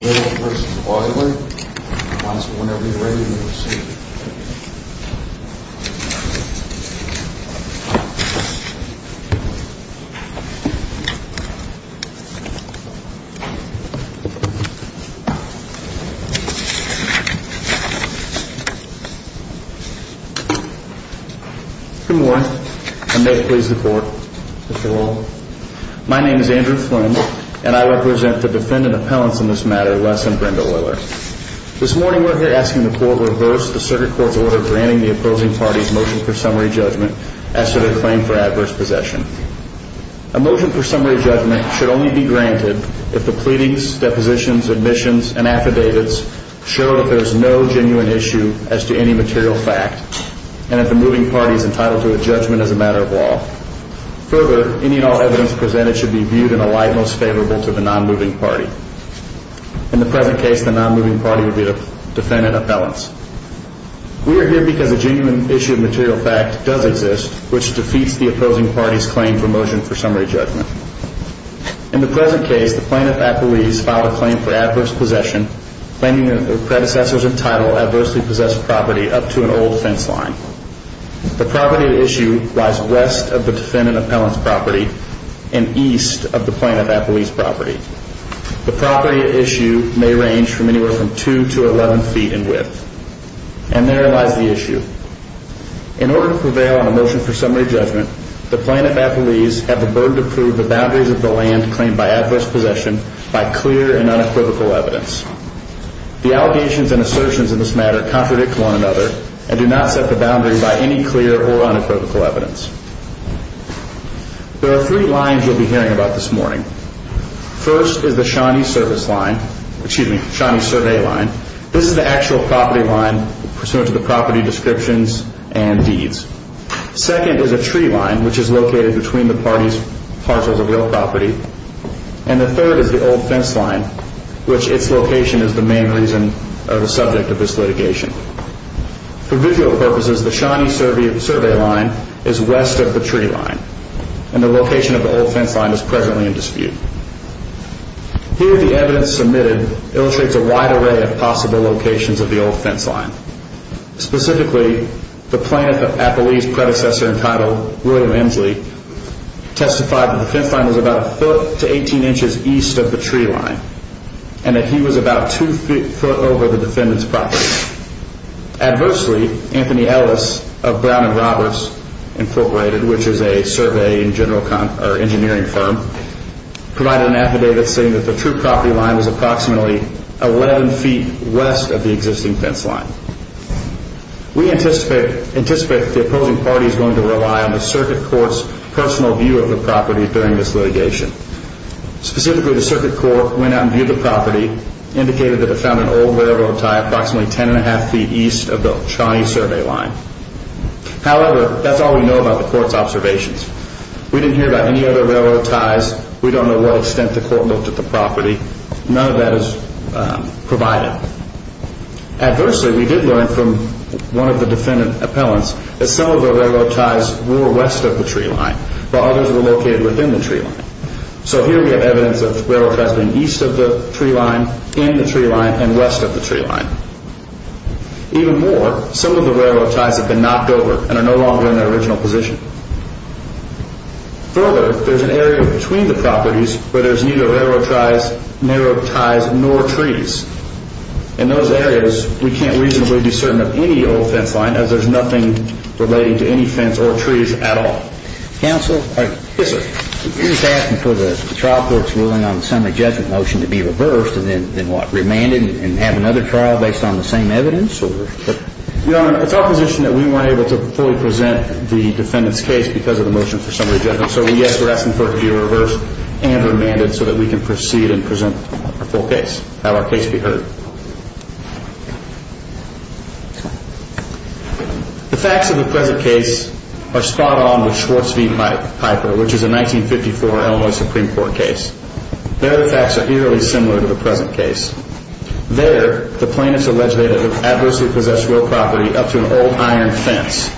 He wants it whenever he's ready to receive it. Good morning, and may it please the court. Mr. Rollins. My name is Andrew Flynn, and I represent the defendant appellants in this matter, Les and Brenda Oyler. This morning we're here asking the court to reverse the circuit court's order granting the opposing parties' motion for summary judgment as to their claim for adverse possession. A motion for summary judgment should only be granted if the pleadings, depositions, admissions, and affidavits show that there is no genuine issue as to any material fact, and that the moving party is entitled to a judgment as a matter of law. Further, any and all evidence presented should be viewed in a light most favorable to the non-moving party. In the present case, the non-moving party would be the defendant appellants. We are here because a genuine issue of material fact does exist, which defeats the opposing party's claim for motion for summary judgment. In the present case, the plaintiff at Belize filed a claim for adverse possession, claiming that their predecessors entitled adversely possessed property up to an old fence line. The property at issue lies west of the defendant appellant's property and east of the plaintiff at Belize's property. The property at issue may range from anywhere from 2 to 11 feet in width. And there lies the issue. In order to prevail on a motion for summary judgment, the plaintiff at Belize had the burden to prove the boundaries of the land claimed by adverse possession by clear and unequivocal evidence. The allegations and assertions in this matter contradict one another and do not set the boundary by any clear or unequivocal evidence. There are three lines you'll be hearing about this morning. First is the Shawnee service line, excuse me, Shawnee survey line. This is the actual property line pursuant to the property descriptions and deeds. Second is a tree line, which is located between the parties' parcels of the old property. And the third is the old fence line, which its location is the main reason or the subject of this litigation. For visual purposes, the Shawnee survey line is west of the tree line. And the location of the old fence line is presently in dispute. Here the evidence submitted illustrates a wide array of possible locations of the old fence line. Specifically, the plaintiff at Belize's predecessor in title, William Emsley, testified that the fence line was about a foot to 18 inches east of the tree line, and that he was about two feet over the defendant's property. Adversely, Anthony Ellis of Brown and Roberts Incorporated, which is a surveying engineering firm, provided an affidavit saying that the true property line was approximately 11 feet west of the existing fence line. We anticipate that the opposing party is going to rely on the circuit court's personal view of the property during this litigation. Specifically, the circuit court went out and viewed the property, indicated that it found an old railroad tie approximately 10.5 feet east of the Shawnee survey line. However, that's all we know about the court's observations. We didn't hear about any other railroad ties. We don't know what extent the court looked at the property. None of that is provided. Adversely, we did learn from one of the defendant appellants that some of the railroad ties were west of the tree line, while others were located within the tree line. So here we have evidence of railroad ties being east of the tree line, in the tree line, and west of the tree line. Even more, some of the railroad ties have been knocked over and are no longer in their original position. Further, there's an area between the properties where there's neither railroad ties nor trees. In those areas, we can't reasonably be certain of any old fence line, as there's nothing relating to any fence or trees at all. Counsel? Yes, sir. You're asking for the trial court's ruling on the summary judgment motion to be reversed and then, what, remanded and have another trial based on the same evidence? Your Honor, it's our position that we weren't able to fully present the defendant's case because of the motion for summary judgment. So, yes, we're asking for it to be reversed and remanded so that we can proceed and present a full case, have our case be heard. The facts of the present case are spot on with Schwartz v. Piper, which is a 1954 Illinois Supreme Court case. There, the facts are eerily similar to the present case. There, the plaintiffs allege they had adversely possessed real property up to an old iron fence.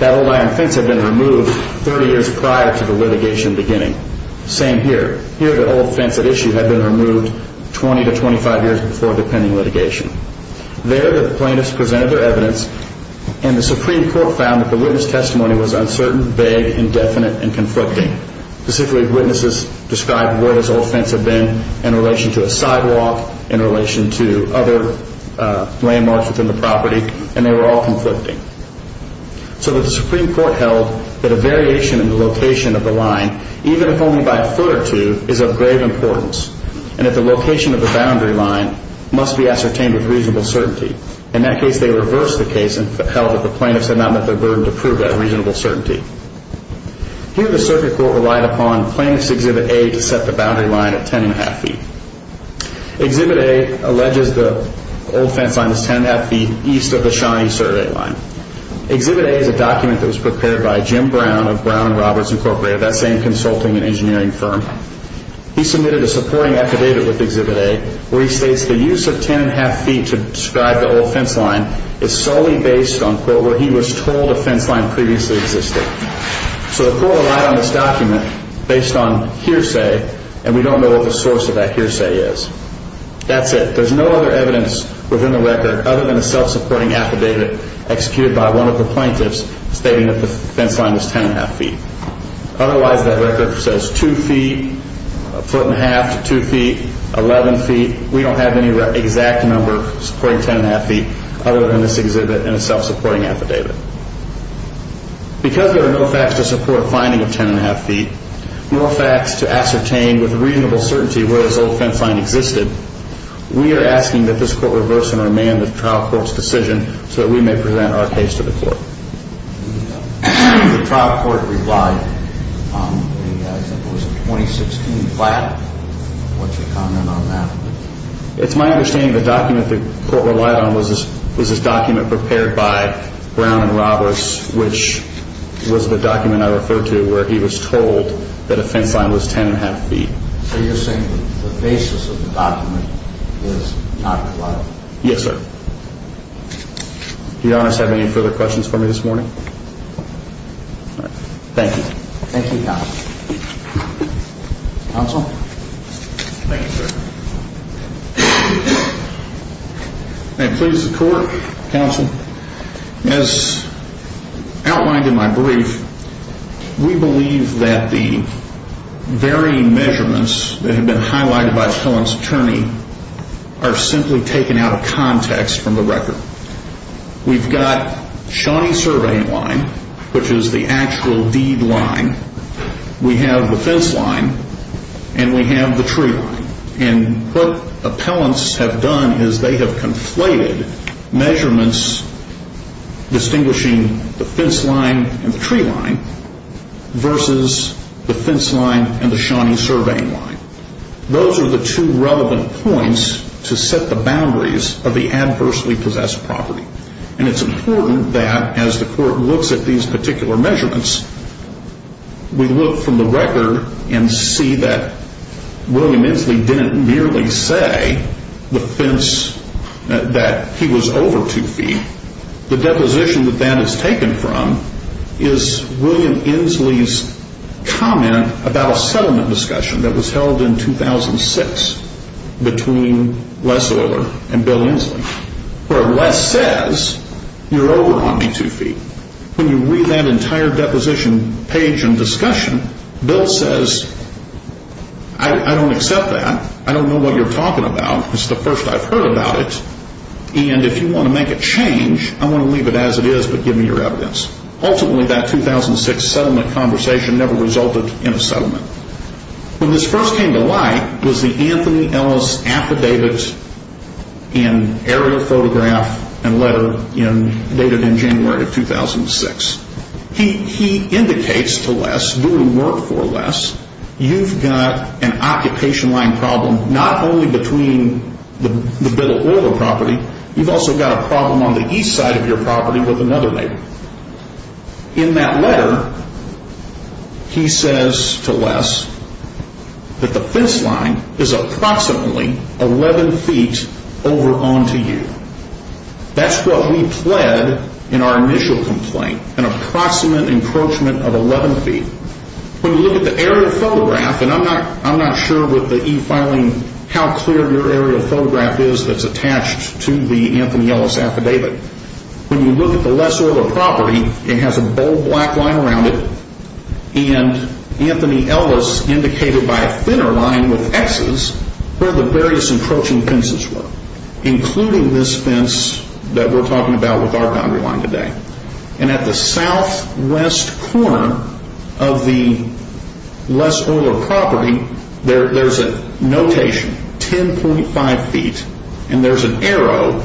That old iron fence had been removed 30 years prior to the litigation beginning. Same here. Here, the old fence at issue had been removed 20 to 25 years before the pending litigation. There, the plaintiffs presented their evidence, and the Supreme Court found that the witness testimony was uncertain, vague, indefinite, and conflicting. Specifically, witnesses described where this old fence had been in relation to a sidewalk, in relation to other landmarks within the property, and they were all conflicting. So the Supreme Court held that a variation in the location of the line, even if only by a foot or two, is of grave importance, and that the location of the boundary line must be ascertained with reasonable certainty. In that case, they reversed the case and held that the plaintiffs had not met their burden to prove that reasonable certainty. Here, the circuit court relied upon Plaintiff's Exhibit A to set the boundary line at 10 1⁄2 feet. Exhibit A alleges the old fence line is 10 1⁄2 feet east of the Shawnee survey line. Exhibit A is a document that was prepared by Jim Brown of Brown and Roberts Incorporated, that same consulting and engineering firm. He submitted a supporting affidavit with Exhibit A where he states the use of 10 1⁄2 feet to describe the old fence line is solely based on, quote, where he was told a fence line previously existed. So the court relied on this document based on hearsay, and we don't know what the source of that hearsay is. That's it. There's no other evidence within the record other than a self-supporting affidavit executed by one of the plaintiffs stating that the fence line is 10 1⁄2 feet. Otherwise, that record says two feet, a foot and a half to two feet, 11 feet. We don't have any exact number supporting 10 1⁄2 feet other than this exhibit and a self-supporting affidavit. Because there are no facts to support a finding of 10 1⁄2 feet, no facts to ascertain with reasonable certainty where this old fence line existed, we are asking that this court reverse and remand the trial court's decision so that we may present our case to the court. The trial court replied that it was a 2016 plan. What's your comment on that? It's my understanding the document the court relied on was this document prepared by Brown and Roberts, which was the document I referred to where he was told that a fence line was 10 1⁄2 feet. So you're saying the basis of the document is not reliable? Yes, sir. Do you honest have any further questions for me this morning? Thank you. Thank you, counsel. Counsel? Thank you, sir. May it please the court, counsel, as outlined in my brief, we believe that the varying measurements that have been highlighted by Cohen's attorney are simply taken out of context from the record. We've got Shawnee surveying line, which is the actual deed line. We have the fence line, and we have the tree line. And what appellants have done is they have conflated measurements distinguishing the fence line and the tree line versus the fence line and the Shawnee surveying line. Those are the two relevant points to set the boundaries of the adversely possessed property. And it's important that as the court looks at these particular measurements, we look from the record and see that William Inslee didn't merely say the fence that he was over 2 feet. The deposition that that is taken from is William Inslee's comment about a settlement discussion that was held in 2006 between Les Oiler and Bill Inslee, where Les says, you're over on me 2 feet. When you read that entire deposition page and discussion, Bill says, I don't accept that. I don't know what you're talking about. It's the first I've heard about it. And if you want to make a change, I want to leave it as it is but give me your evidence. When this first came to light was the Anthony Ellis affidavit and aerial photograph and letter dated in January of 2006. He indicates to Les, do your work for Les. You've got an occupation line problem not only between the Bill Oiler property. You've also got a problem on the east side of your property with another neighbor. In that letter, he says to Les that the fence line is approximately 11 feet over onto you. That's what we pled in our initial complaint, an approximate encroachment of 11 feet. When you look at the aerial photograph, and I'm not sure with the e-filing how clear your aerial photograph is that's attached to the Anthony Ellis affidavit. When you look at the Les Oiler property, it has a bold black line around it and Anthony Ellis indicated by a thinner line with X's where the various encroaching fences were including this fence that we're talking about with our boundary line today. And at the southwest corner of the Les Oiler property, there's a notation, 10.5 feet and there's an arrow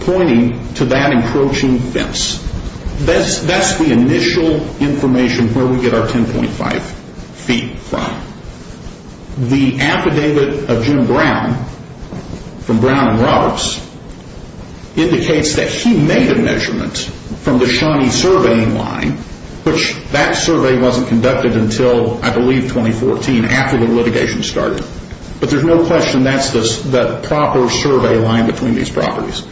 pointing to that encroaching fence. That's the initial information where we get our 10.5 feet from. The affidavit of Jim Brown from Brown and Roberts indicates that he made a measurement from the Shawnee surveying line, which that survey wasn't conducted until I believe 2014 after the litigation started. But there's no question that's the proper survey line between these properties.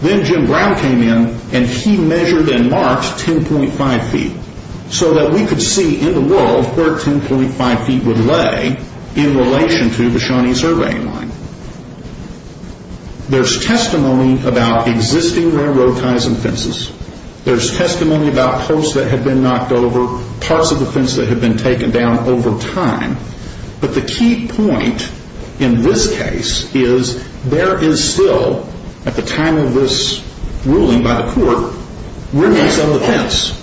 Then Jim Brown came in and he measured and marked 10.5 feet so that we could see in the world where 10.5 feet would lay in relation to the Shawnee surveying line. There's testimony about existing railroad ties and fences. There's testimony about posts that had been knocked over, parts of the fence that had been taken down over time. But the key point in this case is there is still, at the time of this ruling by the court, remnants of the fence.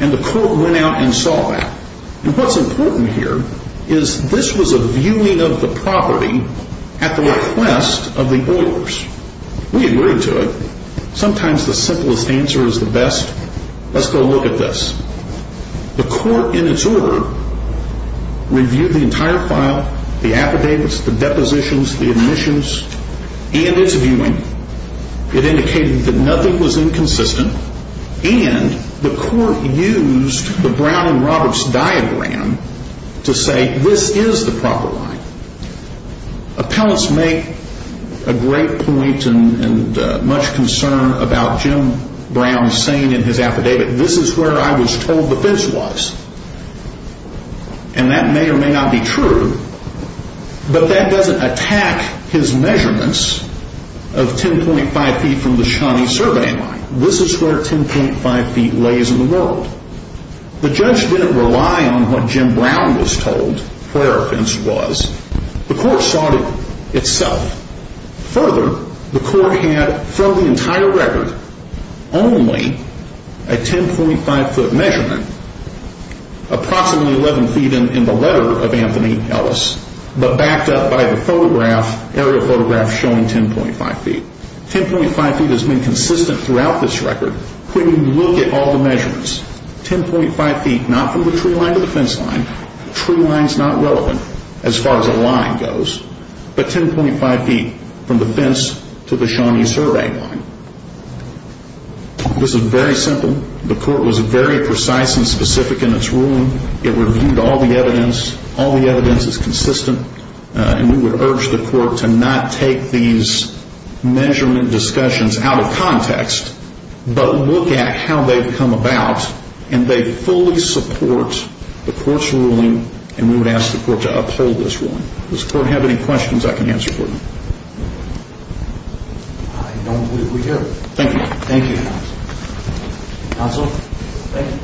And the court went out and saw that. And what's important here is this was a viewing of the property at the request of the Oilers. We agreed to it. Sometimes the simplest answer is the best. Let's go look at this. The court in its order reviewed the entire file, the affidavits, the depositions, the admissions, and its viewing. It indicated that nothing was inconsistent. And the court used the Brown and Roberts diagram to say this is the proper line. Appellants make a great point and much concern about Jim Brown saying in his affidavit, this is where I was told the fence was. And that may or may not be true. But that doesn't attack his measurements of 10.5 feet from the Shawnee surveying line. This is where 10.5 feet lays in the world. The judge didn't rely on what Jim Brown was told where the fence was. The court saw it itself. Further, the court had from the entire record only a 10.5-foot measurement, approximately 11 feet in the letter of Anthony Ellis, but backed up by the photograph, aerial photograph showing 10.5 feet. 10.5 feet has been consistent throughout this record when you look at all the measurements. 10.5 feet not from the tree line to the fence line. Tree line is not relevant as far as a line goes. But 10.5 feet from the fence to the Shawnee surveying line. This is very simple. The court was very precise and specific in its ruling. It reviewed all the evidence. All the evidence is consistent. And we would urge the court to not take these measurement discussions out of context, but look at how they've come about. And they fully support the court's ruling. And we would ask the court to uphold this ruling. Does the court have any questions I can answer for you? I don't believe we do. Thank you. Thank you. Counsel, thank you.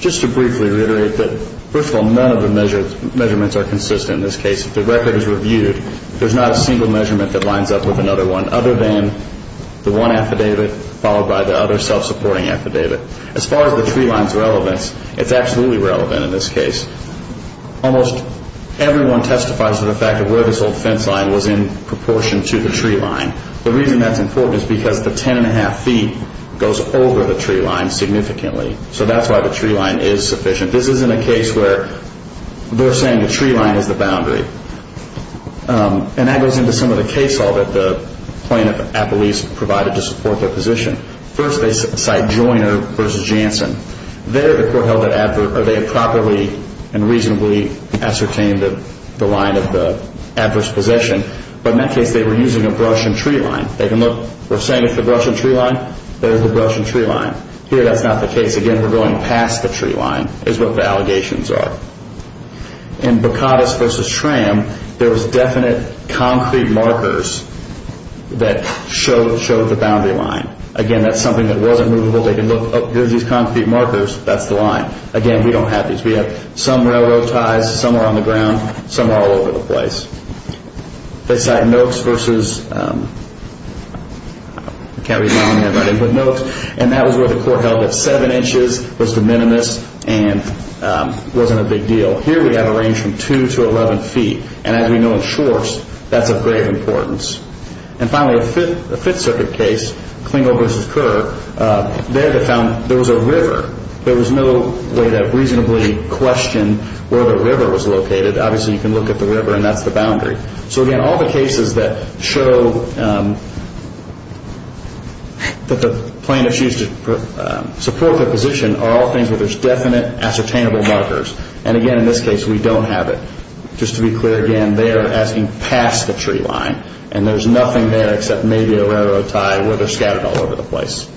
Just to briefly reiterate that, first of all, none of the measurements are consistent in this case. The record is reviewed. There's not a single measurement that lines up with another one other than the one affidavit followed by the other self-supporting affidavit. As far as the tree line's relevance, it's absolutely relevant in this case. Almost everyone testifies to the fact that where this old fence line was in proportion to the tree line. The reason that's important is because the 10 1⁄2 feet goes over the tree line significantly. So that's why the tree line is sufficient. This isn't a case where they're saying the tree line is the boundary. And that goes into some of the case law that the plaintiff at least provided to support their position. First, they cite Joyner v. Jansen. There, the court held that they had properly and reasonably ascertained the line of the adverse possession. But in that case, they were using a brush and tree line. They can look. We're saying it's the brush and tree line. There's the brush and tree line. Here, that's not the case. Again, we're going past the tree line is what the allegations are. In Bacatus v. Tram, there was definite concrete markers that showed the boundary line. Again, that's something that wasn't movable. They can look. Here are these concrete markers. That's the line. Again, we don't have these. We have some railroad ties. Some are on the ground. Some are all over the place. They cite Noakes v. Cary Longhead v. Noakes. And that was where the court held that 7 inches was de minimis and wasn't a big deal. Here, we have a range from 2 to 11 feet. And as we know in Schwartz, that's of great importance. And finally, a Fifth Circuit case, Klingo v. Kerr, there they found there was a river. There was no way to reasonably question where the river was located. Obviously, you can look at the river, and that's the boundary. So, again, all the cases that show that the plaintiffs used to support their position are all things where there's definite ascertainable markers. And, again, in this case, we don't have it. Just to be clear, again, they are asking past the tree line, and there's nothing there except maybe a railroad tie where they're scattered all over the place.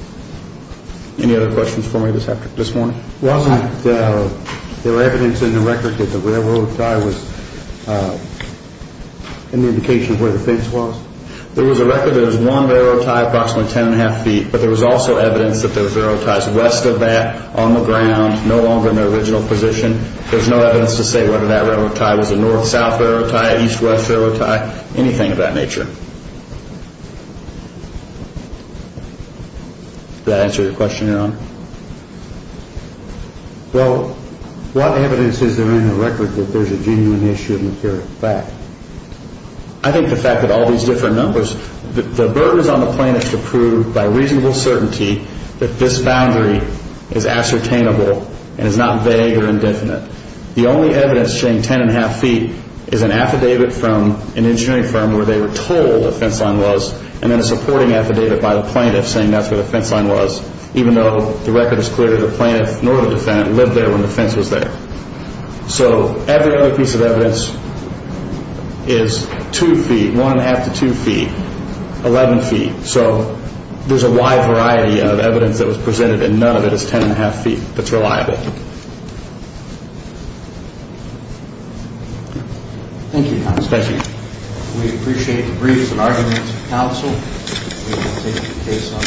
Any other questions for me this morning? Wasn't there evidence in the record that the railroad tie was in the location where the fence was? There was a record that it was one railroad tie approximately 10 1⁄2 feet, but there was also evidence that there was railroad ties west of that, on the ground, no longer in their original position. There's no evidence to say whether that railroad tie was a north-south railroad tie, east-west railroad tie, anything of that nature. Does that answer your question, Your Honor? Well, what evidence is there in the record that there's a genuine issue of material fact? I think the fact that all these different numbers, the burden is on the plaintiff to prove by reasonable certainty that this boundary is ascertainable and is not vague or indefinite. The only evidence showing 10 1⁄2 feet is an affidavit from an engineering firm where they were told where the fence line was, and then a supporting affidavit by the plaintiff saying that's where the fence line was, even though the record is clear that the plaintiff nor the defendant lived there when the fence was there. So every other piece of evidence is 2 feet, 1 1⁄2 to 2 feet, 11 feet. So there's a wide variety of evidence that was presented, and none of it is 10 1⁄2 feet that's reliable. Thank you, Your Honor. Thank you. We appreciate the briefs and arguments of counsel. We will take the case on.